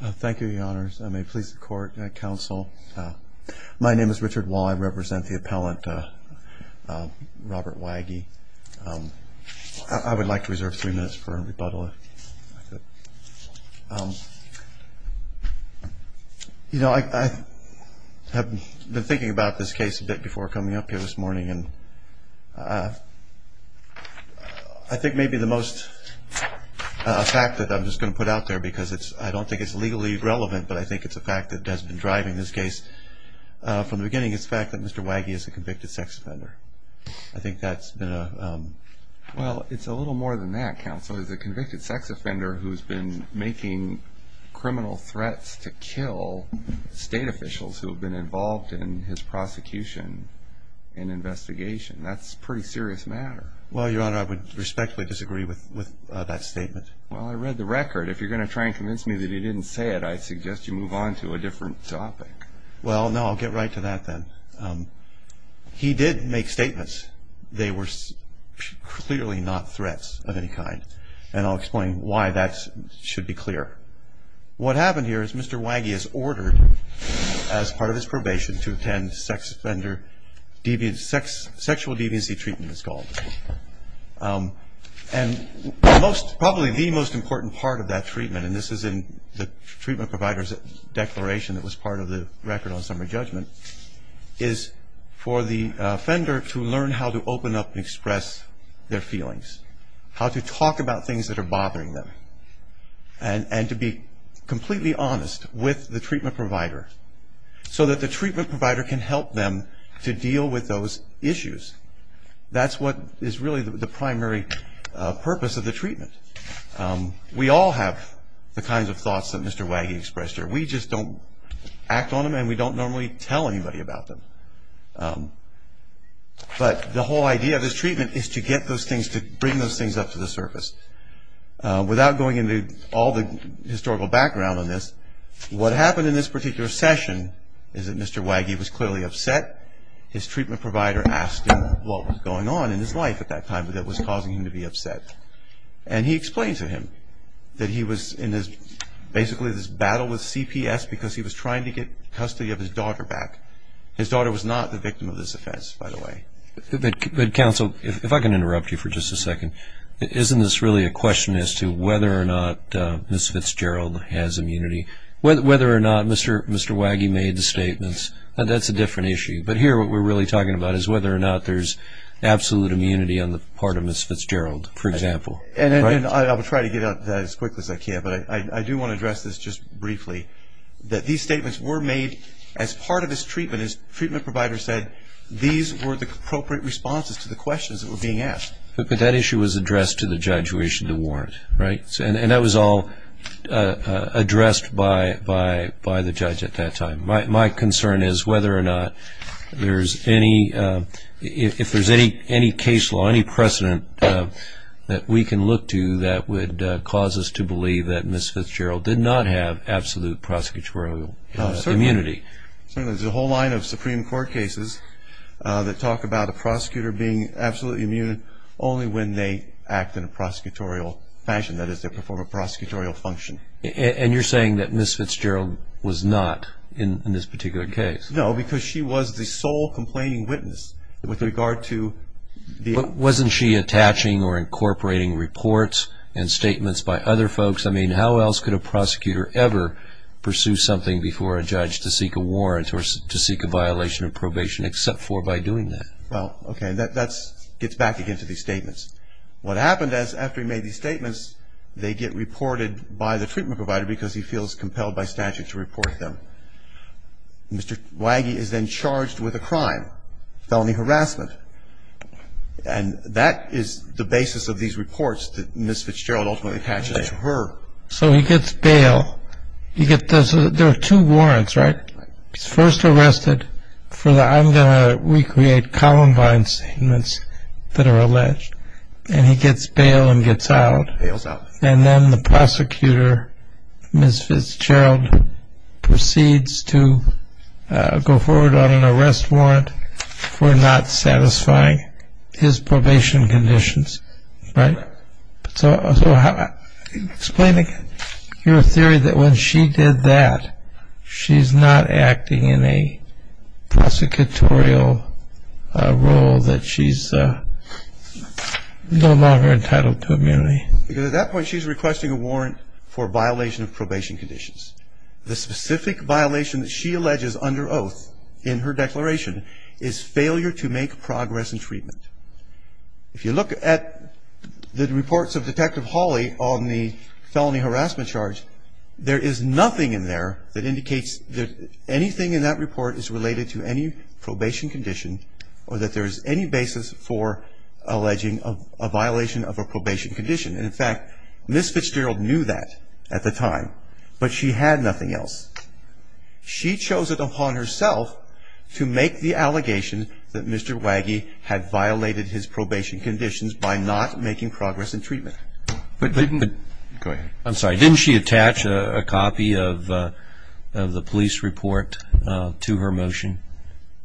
Thank you, Your Honors. I may please the court and counsel. My name is Richard Wall. I represent the appellant, Robert Waggy. I would like to reserve three minutes for rebuttal. You know, I have been thinking about this case a bit before coming up here this morning. I think maybe the most fact that I'm just going to put out there, because I don't think it's legally relevant, but I think it's a fact that has been driving this case from the beginning is the fact that Mr. Waggy is a convicted sex offender. I think that's been a... Well, it's a little more than that, counsel. He's a convicted sex offender who's been making criminal threats to kill state officials who have been involved in his prosecution and investigation. That's a pretty serious matter. Well, Your Honor, I would respectfully disagree with that statement. Well, I read the record. If you're going to try and convince me that he didn't say it, I suggest you move on to a different topic. Well, no, I'll get right to that then. He did make statements. They were clearly not threats of any kind, and I'll explain why that should be clear. What happened here is Mr. Waggy is ordered, as part of his probation, to attend sexual deviancy treatment, it's called. And probably the most important part of that treatment, and this is in the treatment provider's declaration that was part of the record on summary judgment, is for the offender to learn how to open up and express their feelings, how to talk about things that are bothering them, and to be completely honest with the treatment provider so that the treatment provider can help them to deal with those issues. That's what is really the primary purpose of the treatment. We all have the kinds of thoughts that Mr. Waggy expressed here. We just don't act on them, and we don't normally tell anybody about them. But the whole idea of this treatment is to get those things, to bring those things up to the surface. Without going into all the historical background on this, what happened in this particular session is that Mr. Waggy was clearly upset. His treatment provider asked him what was going on in his life at that time that was causing him to be upset. And he explained to him that he was in basically this battle with CPS because he was trying to get custody of his daughter back. His daughter was not the victim of this offense, by the way. But counsel, if I can interrupt you for just a second, isn't this really a question as to whether or not Ms. Fitzgerald has immunity? Whether or not Mr. Waggy made the statements, that's a different issue. But here what we're really talking about is whether or not there's absolute immunity on the part of Ms. Fitzgerald, for example. And I will try to get at that as quickly as I can, but I do want to address this just briefly, that these statements were made as part of his treatment. His treatment provider said these were the appropriate responses to the questions that were being asked. But that issue was addressed to the judge who issued the warrant, right? And that was all addressed by the judge at that time. My concern is whether or not there's any, if there's any case law, any precedent that we can look to that would cause us to believe that Ms. Fitzgerald did not have absolute prosecutorial immunity. Certainly. There's a whole line of Supreme Court cases that talk about a prosecutor being absolutely immune only when they act in a prosecutorial fashion, that is, they perform a prosecutorial function. And you're saying that Ms. Fitzgerald was not in this particular case? No, because she was the sole complaining witness with regard to the... But wasn't she attaching or incorporating reports and statements by other folks? I mean, how else could a prosecutor ever pursue something before a judge to seek a warrant or to seek a violation of probation except for by doing that? So he gets bail. He's first arrested for the, I'm going to recreate Columbine statements that are alleged. And then he's charged with a crime, felony harassment. And that is the basis of these reports that Ms. Fitzgerald ultimately attaches to her. So he gets bail. There are two warrants, right? Right. He's first arrested for the, I'm going to recreate Columbine statements that are alleged. And he gets bail and gets out. And then the prosecutor, Ms. Fitzgerald, proceeds to go forward on an arrest warrant for not satisfying his probation conditions, right? So explaining your theory that when she did that, she's not acting in a prosecutorial role that she's no longer entitled to immunity. Because at that point, she's requesting a warrant for violation of probation conditions. The specific violation that she alleges under oath in her declaration is failure to make progress in treatment. If you look at the reports of Detective Hawley on the felony harassment charge, there is nothing in there that indicates that anything in that report is related to any probation condition or that there is any basis for alleging a violation of a probation condition. And, in fact, Ms. Fitzgerald knew that at the time. But she had nothing else. She chose it upon herself to make the allegation that Mr. Waggie had violated his probation conditions by not making progress in treatment. Go ahead. I'm sorry. Didn't she attach a copy of the police report to her motion?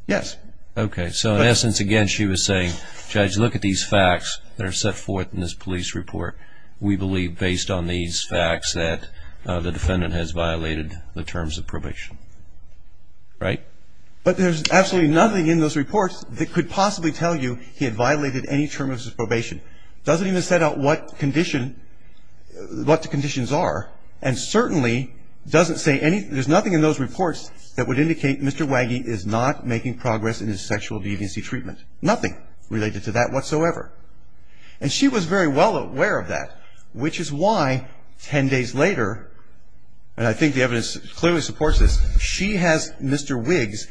Yes. Okay. So in essence, again, she was saying, Judge, look at these facts that are set forth in this police report. We believe based on these facts that the defendant has violated the terms of probation. Right? But there's absolutely nothing in those reports that could possibly tell you he had violated any terms of probation. Doesn't even set out what condition, what the conditions are. And certainly doesn't say any, there's nothing in those reports that would indicate Mr. Waggie is not making progress in his sexual deviancy treatment. Nothing related to that whatsoever. And she was very well aware of that, which is why ten days later, and I think the evidence clearly supports this, she has Mr. Wiggs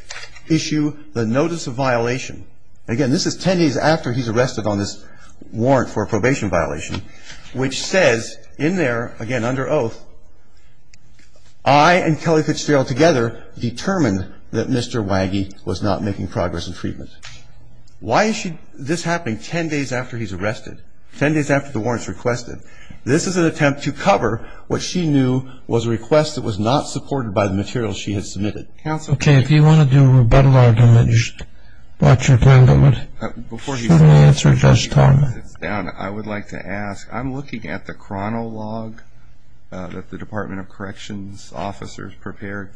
issue the notice of violation. Again, this is ten days after he's arrested on this warrant for a probation violation, which says in there, again, under oath, I and Kelly Fitzgerald together determined that Mr. Waggie was not making progress in treatment. Why is this happening ten days after he's arrested? Ten days after the warrant's requested? This is an attempt to cover what she knew was a request that was not supported by the material she had submitted. Okay, if you want to do a rebuttal argument, just watch your time limit. Before he sits down, I would like to ask, I'm looking at the chronolog that the Department of Corrections officers prepared,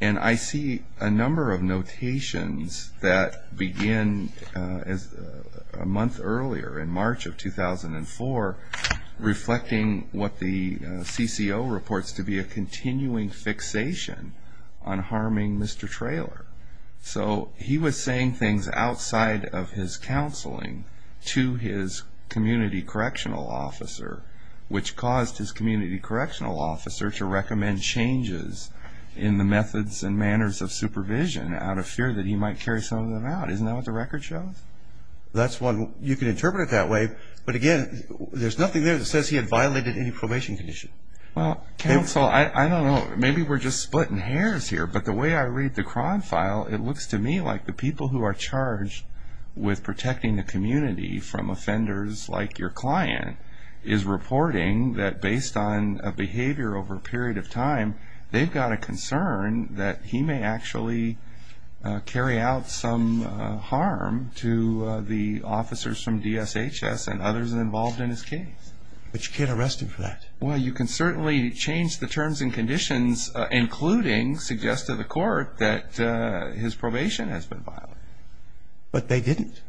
and I see a number of notations that begin a month earlier, in March of 2004, reflecting what the CCO reports to be a continuing fixation on harming Mr. Traylor. So he was saying things outside of his counseling to his community correctional officer, which caused his community correctional officer to recommend changes in the methods and manners of supervision out of fear that he might carry some of them out. Isn't that what the record shows? That's one, you can interpret it that way, but again, there's nothing there that says he had violated any probation condition. Well, counsel, I don't know, maybe we're just splitting hairs here, but the way I read the chron file, it looks to me like the people who are charged with protecting the community from offenders like your client is reporting that based on a behavior over a period of time, they've got a concern that he may actually carry out some harm to the officers from DSHS and others involved in his case. But you can't arrest him for that? Well, you can certainly change the terms and conditions, including suggest to the court that his probation has been violated. But they didn't.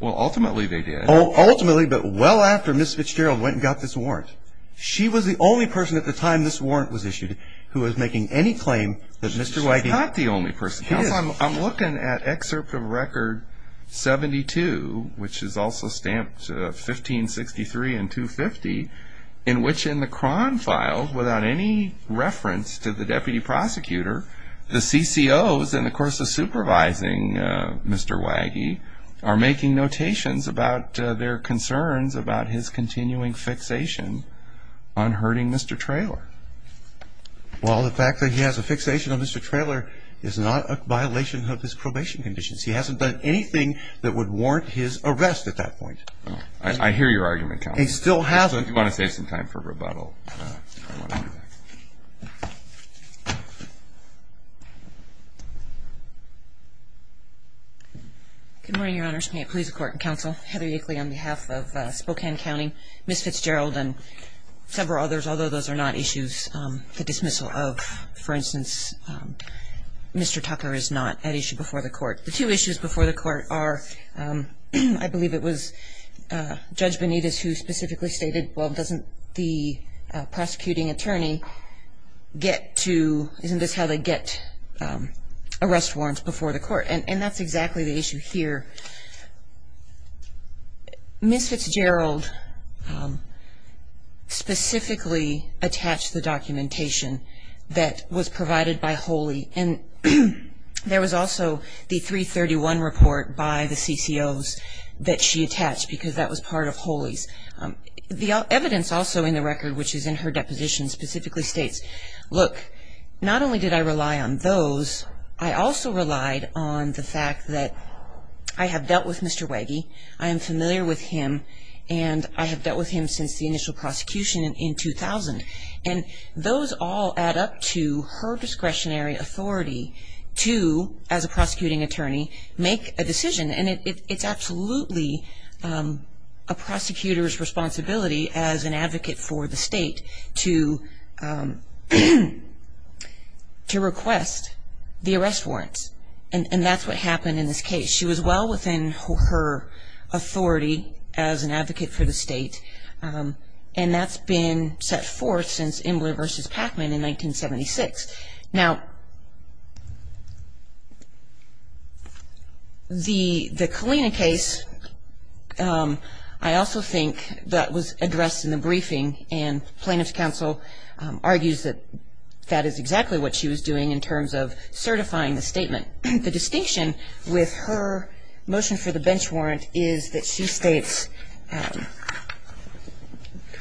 Well, ultimately they did. Ultimately, but well after Ms. Fitzgerald went and got this warrant. She was the only person at the time this warrant was issued who was making any claim that Mr. Wigand... She's not the only person, counsel. I'm looking at excerpt of record 72, which is also stamped 1563 and 250, in which in the chron file, without any reference to the deputy prosecutor, the CCOs in the course of supervising Mr. Wigand are making notations about their concerns about his continuing fixation on hurting Mr. Traylor. Well, the fact that he has a fixation on Mr. Traylor is not a violation of his probation conditions. He hasn't done anything that would warrant his arrest at that point. I hear your argument, counsel. He still hasn't. You want to save some time for rebuttal? Good morning, Your Honors. May it please the Court and counsel. Heather Yackley on behalf of Spokane County. Ms. Fitzgerald and several others, although those are not issues, the dismissal of, for instance, Mr. Tucker is not an issue before the court. The two issues before the court are, I believe it was Judge Benitez who specifically stated, well, doesn't the prosecuting attorney get to, isn't this how they get arrest warrants before the court? And that's exactly the issue here. Ms. Fitzgerald specifically attached the documentation that was provided by Holy, and there was also the 331 report by the CCOs that she attached because that was part of Holy's. The evidence also in the record, which is in her deposition, specifically states, look, not only did I rely on those, I also relied on the fact that I have dealt with Mr. Wege, I am familiar with him, and I have dealt with him since the initial prosecution in 2000. And those all add up to her discretionary authority to, as a prosecuting attorney, make a decision. And it's absolutely a prosecutor's responsibility as an advocate for the state to request the arrest warrants. And that's what happened in this case. She was well within her authority as an advocate for the state, and that's been set forth since Imler v. Pacman in 1976. Now, the Kalina case, I also think that was addressed in the briefing, and plaintiff's counsel argues that that is exactly what she was doing in terms of certifying the statement. The distinction with her motion for the bench warrant is that she states,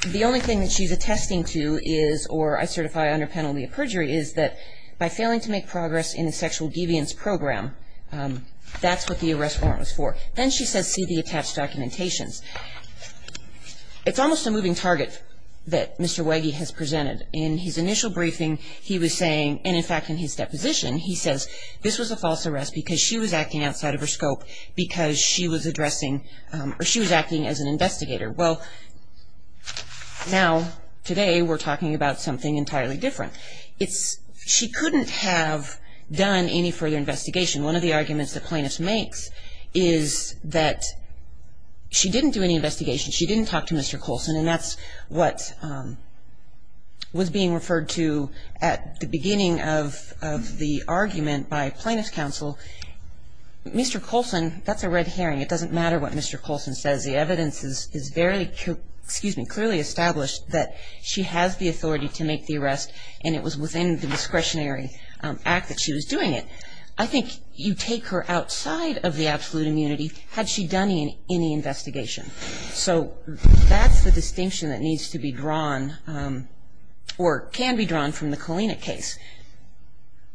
the only thing that she's attesting to is, or I certify under penalty of perjury, is that by failing to make progress in the sexual deviance program, that's what the arrest warrant was for. Then she says, see the attached documentations. It's almost a moving target that Mr. Wege has presented. In his initial briefing he was saying, and in fact in his deposition he says, this was a false arrest because she was acting outside of her scope because she was addressing, or she was acting as an investigator. Well, now today we're talking about something entirely different. She couldn't have done any further investigation. One of the arguments the plaintiff makes is that she didn't do any investigation. She didn't talk to Mr. Colson, and that's what was being referred to at the beginning of the argument by plaintiff's counsel. Mr. Colson, that's a red herring. It doesn't matter what Mr. Colson says. The evidence is very clearly established that she has the authority to make the arrest, and it was within the discretionary act that she was doing it. I think you take her outside of the absolute immunity had she done any investigation. So that's the distinction that needs to be drawn or can be drawn from the Kalina case.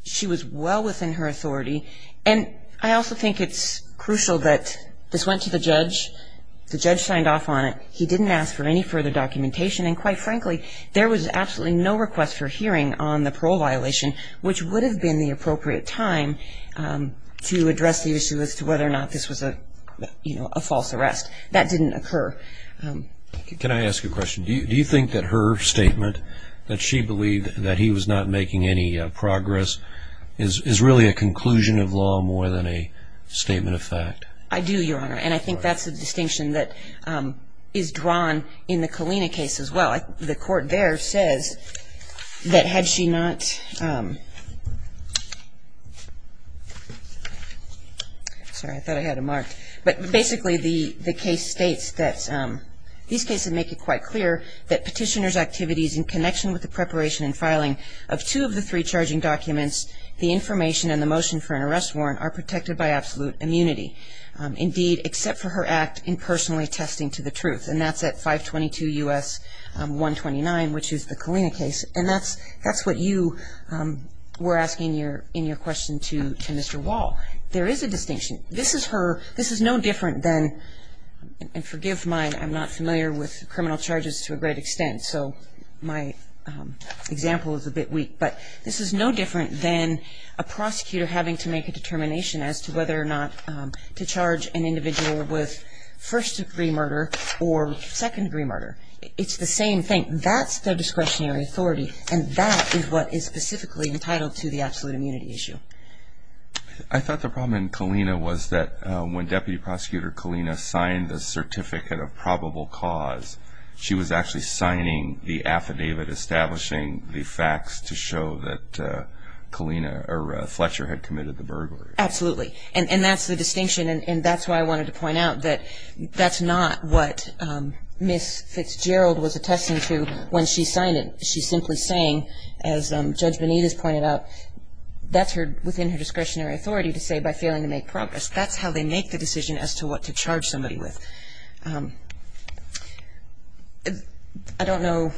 She was well within her authority, and I also think it's crucial that this went to the judge. The judge signed off on it. He didn't ask for any further documentation, and quite frankly, there was absolutely no request for hearing on the parole violation, which would have been the appropriate time to address the issue as to whether or not this was a false arrest. That didn't occur. Can I ask you a question? Do you think that her statement that she believed that he was not making any progress is really a conclusion of law more than a statement of fact? I do, Your Honor, and I think that's the distinction that is drawn in the Kalina case as well. The court there says that had she not ---- Sorry, I thought I had it marked, but basically the case states that these cases make it quite clear that petitioner's activities in connection with the preparation and filing of two of the three charging documents, the information and the motion for an arrest warrant are protected by absolute immunity. Indeed, except for her act in personally attesting to the truth, and that's at 522 U.S. 129, which is the Kalina case, and that's what you were asking in your question to Mr. Wall. There is a distinction. This is no different than, and forgive mine, I'm not familiar with criminal charges to a great extent, so my example is a bit weak, but this is no different than a prosecutor having to make a determination as to whether or not to charge an individual with first-degree murder or second-degree murder. It's the same thing. That's their discretionary authority, and that is what is specifically entitled to the absolute immunity issue. I thought the problem in Kalina was that when Deputy Prosecutor Kalina signed the Certificate of Probable Cause, she was actually signing the affidavit establishing the facts to show that Kalina or Fletcher had committed the burglary. Absolutely, and that's the distinction, and that's why I wanted to point out that that's not what Ms. Fitzgerald was attesting to when she signed it. She's simply saying, as Judge Benitez pointed out, that's within her discretionary authority to say, by failing to make progress, that's how they make the decision as to what to charge somebody with. I don't know.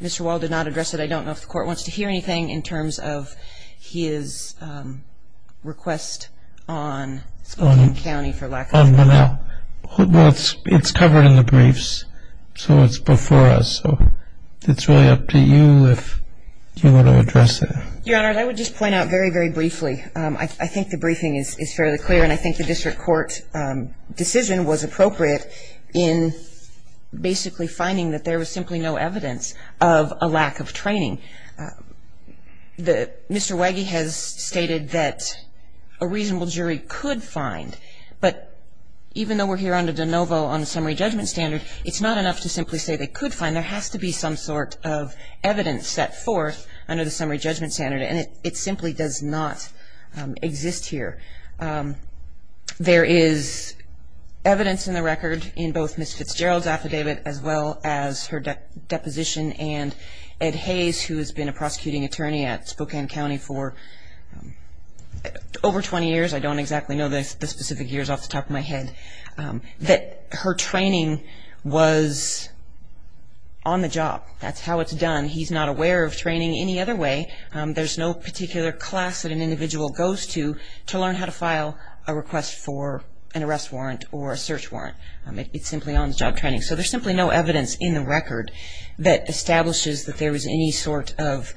Mr. Wall did not address it. I don't know if the Court wants to hear anything in terms of his request on Spokane County for lack of a better word. It's covered in the briefs, so it's before us. It's really up to you if you want to address it. Your Honor, I would just point out very, very briefly, I think the briefing is fairly clear, and I think the district court decision was appropriate in basically finding that there was simply no evidence of a lack of training. Mr. Wege has stated that a reasonable jury could find, but even though we're here under de novo on a summary judgment standard, it's not enough to simply say they could find. There has to be some sort of evidence set forth under the summary judgment standard, and it simply does not exist here. There is evidence in the record in both Ms. Fitzgerald's affidavit as well as her deposition and Ed Hayes, who has been a prosecuting attorney at Spokane County for over 20 years. I don't exactly know the specific years off the top of my head, that her training was on the job. That's how it's done. He's not aware of training any other way. There's no particular class that an individual goes to to learn how to file a request for an arrest warrant or a search warrant. It simply owns job training. So there's simply no evidence in the record that establishes that there was any sort of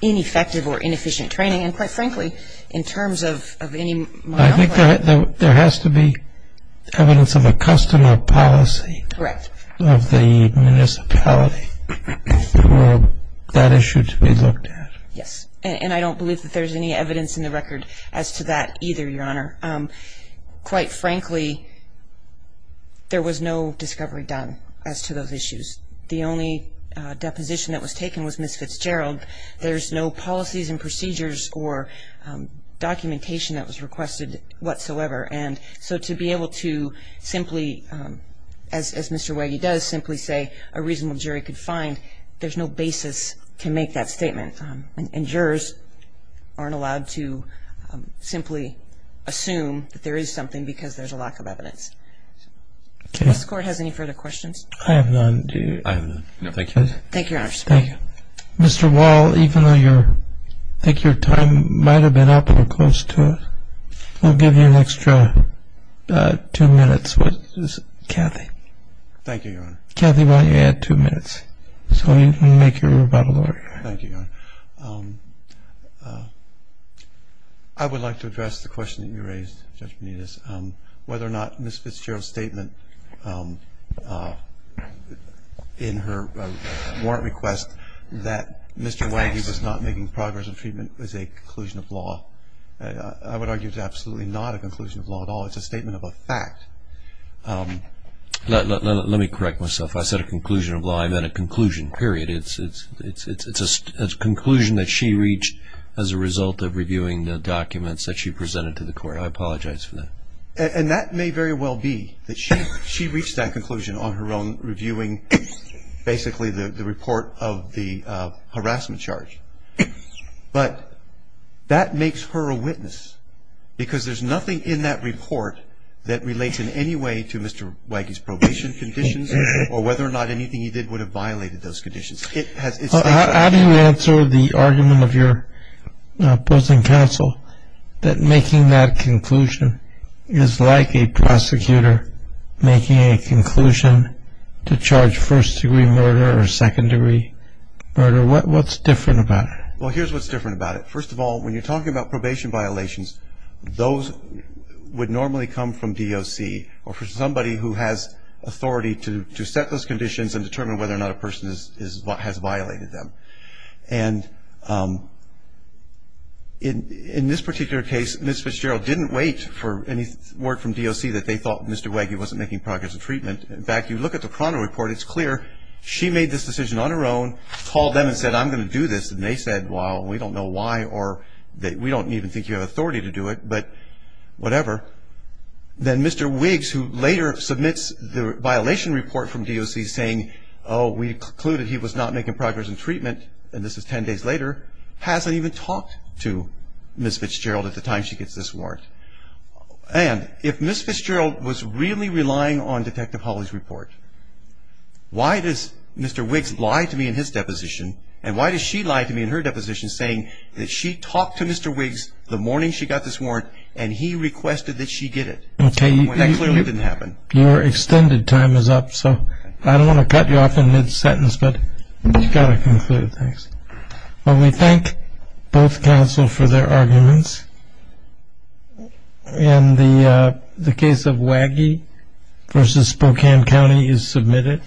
ineffective or inefficient training, and quite frankly, in terms of any monopoly. I think there has to be evidence of a custom or policy of the municipality for that issue to be looked at. Yes, and I don't believe that there's any evidence in the record as to that either, Your Honor. Quite frankly, there was no discovery done as to those issues. The only deposition that was taken was Ms. Fitzgerald. There's no policies and procedures or documentation that was requested whatsoever, and so to be able to simply, as Mr. Wege does, simply say a reasonable jury could find, there's no basis to make that statement. And jurors aren't allowed to simply assume that there is something because there's a lack of evidence. Does this Court have any further questions? I have none. I have none. No, thank you. Thank you, Your Honor. Mr. Wall, even though I think your time might have been up or close to it, I'll give you an extra two minutes. Kathy. Thank you, Your Honor. Kathy, why don't you add two minutes so we can make your rebuttal order? Thank you, Your Honor. I would like to address the question that you raised, Judge Benitez, whether or not Ms. Fitzgerald's statement in her warrant request that Mr. Wege was not making progress in treatment is a conclusion of law. I would argue it's absolutely not a conclusion of law at all. It's a statement of a fact. Let me correct myself. I said a conclusion of law. I meant a conclusion, period. It's a conclusion that she reached as a result of reviewing the documents that she presented to the Court. I apologize for that. And that may very well be that she reached that conclusion on her own, reviewing basically the report of the harassment charge. But that makes her a witness because there's nothing in that report that relates in any way to Mr. Wege's probation conditions or whether or not anything he did would have violated those conditions. How do you answer the argument of your opposing counsel that making that conclusion is like a prosecutor making a conclusion to charge first-degree murder or second-degree murder? What's different about it? Well, here's what's different about it. First of all, when you're talking about probation violations, those would normally come from DOC or from somebody who has authority to set those conditions and determine whether or not a person has violated them. And in this particular case, Ms. Fitzgerald didn't wait for any word from DOC that they thought Mr. Wege wasn't making progress in treatment. In fact, you look at the chrono report, it's clear she made this decision on her own, called them and said, I'm going to do this. And they said, well, we don't know why or we don't even think you have authority to do it, but whatever. Then Mr. Wege, who later submits the violation report from DOC saying, oh, we concluded he was not making progress in treatment and this is 10 days later, hasn't even talked to Ms. Fitzgerald at the time she gets this warrant. And if Ms. Fitzgerald was really relying on Detective Hawley's report, why does Mr. Wiggs lie to me in his deposition and why does she lie to me in her deposition saying that she talked to Mr. Wiggs the morning she got this warrant and he requested that she get it when that clearly didn't happen? Your extended time is up, so I don't want to cut you off in mid-sentence, but you've got to conclude, thanks. Well, we thank both counsel for their arguments. And the case of Waggie v. Spokane County is submitted.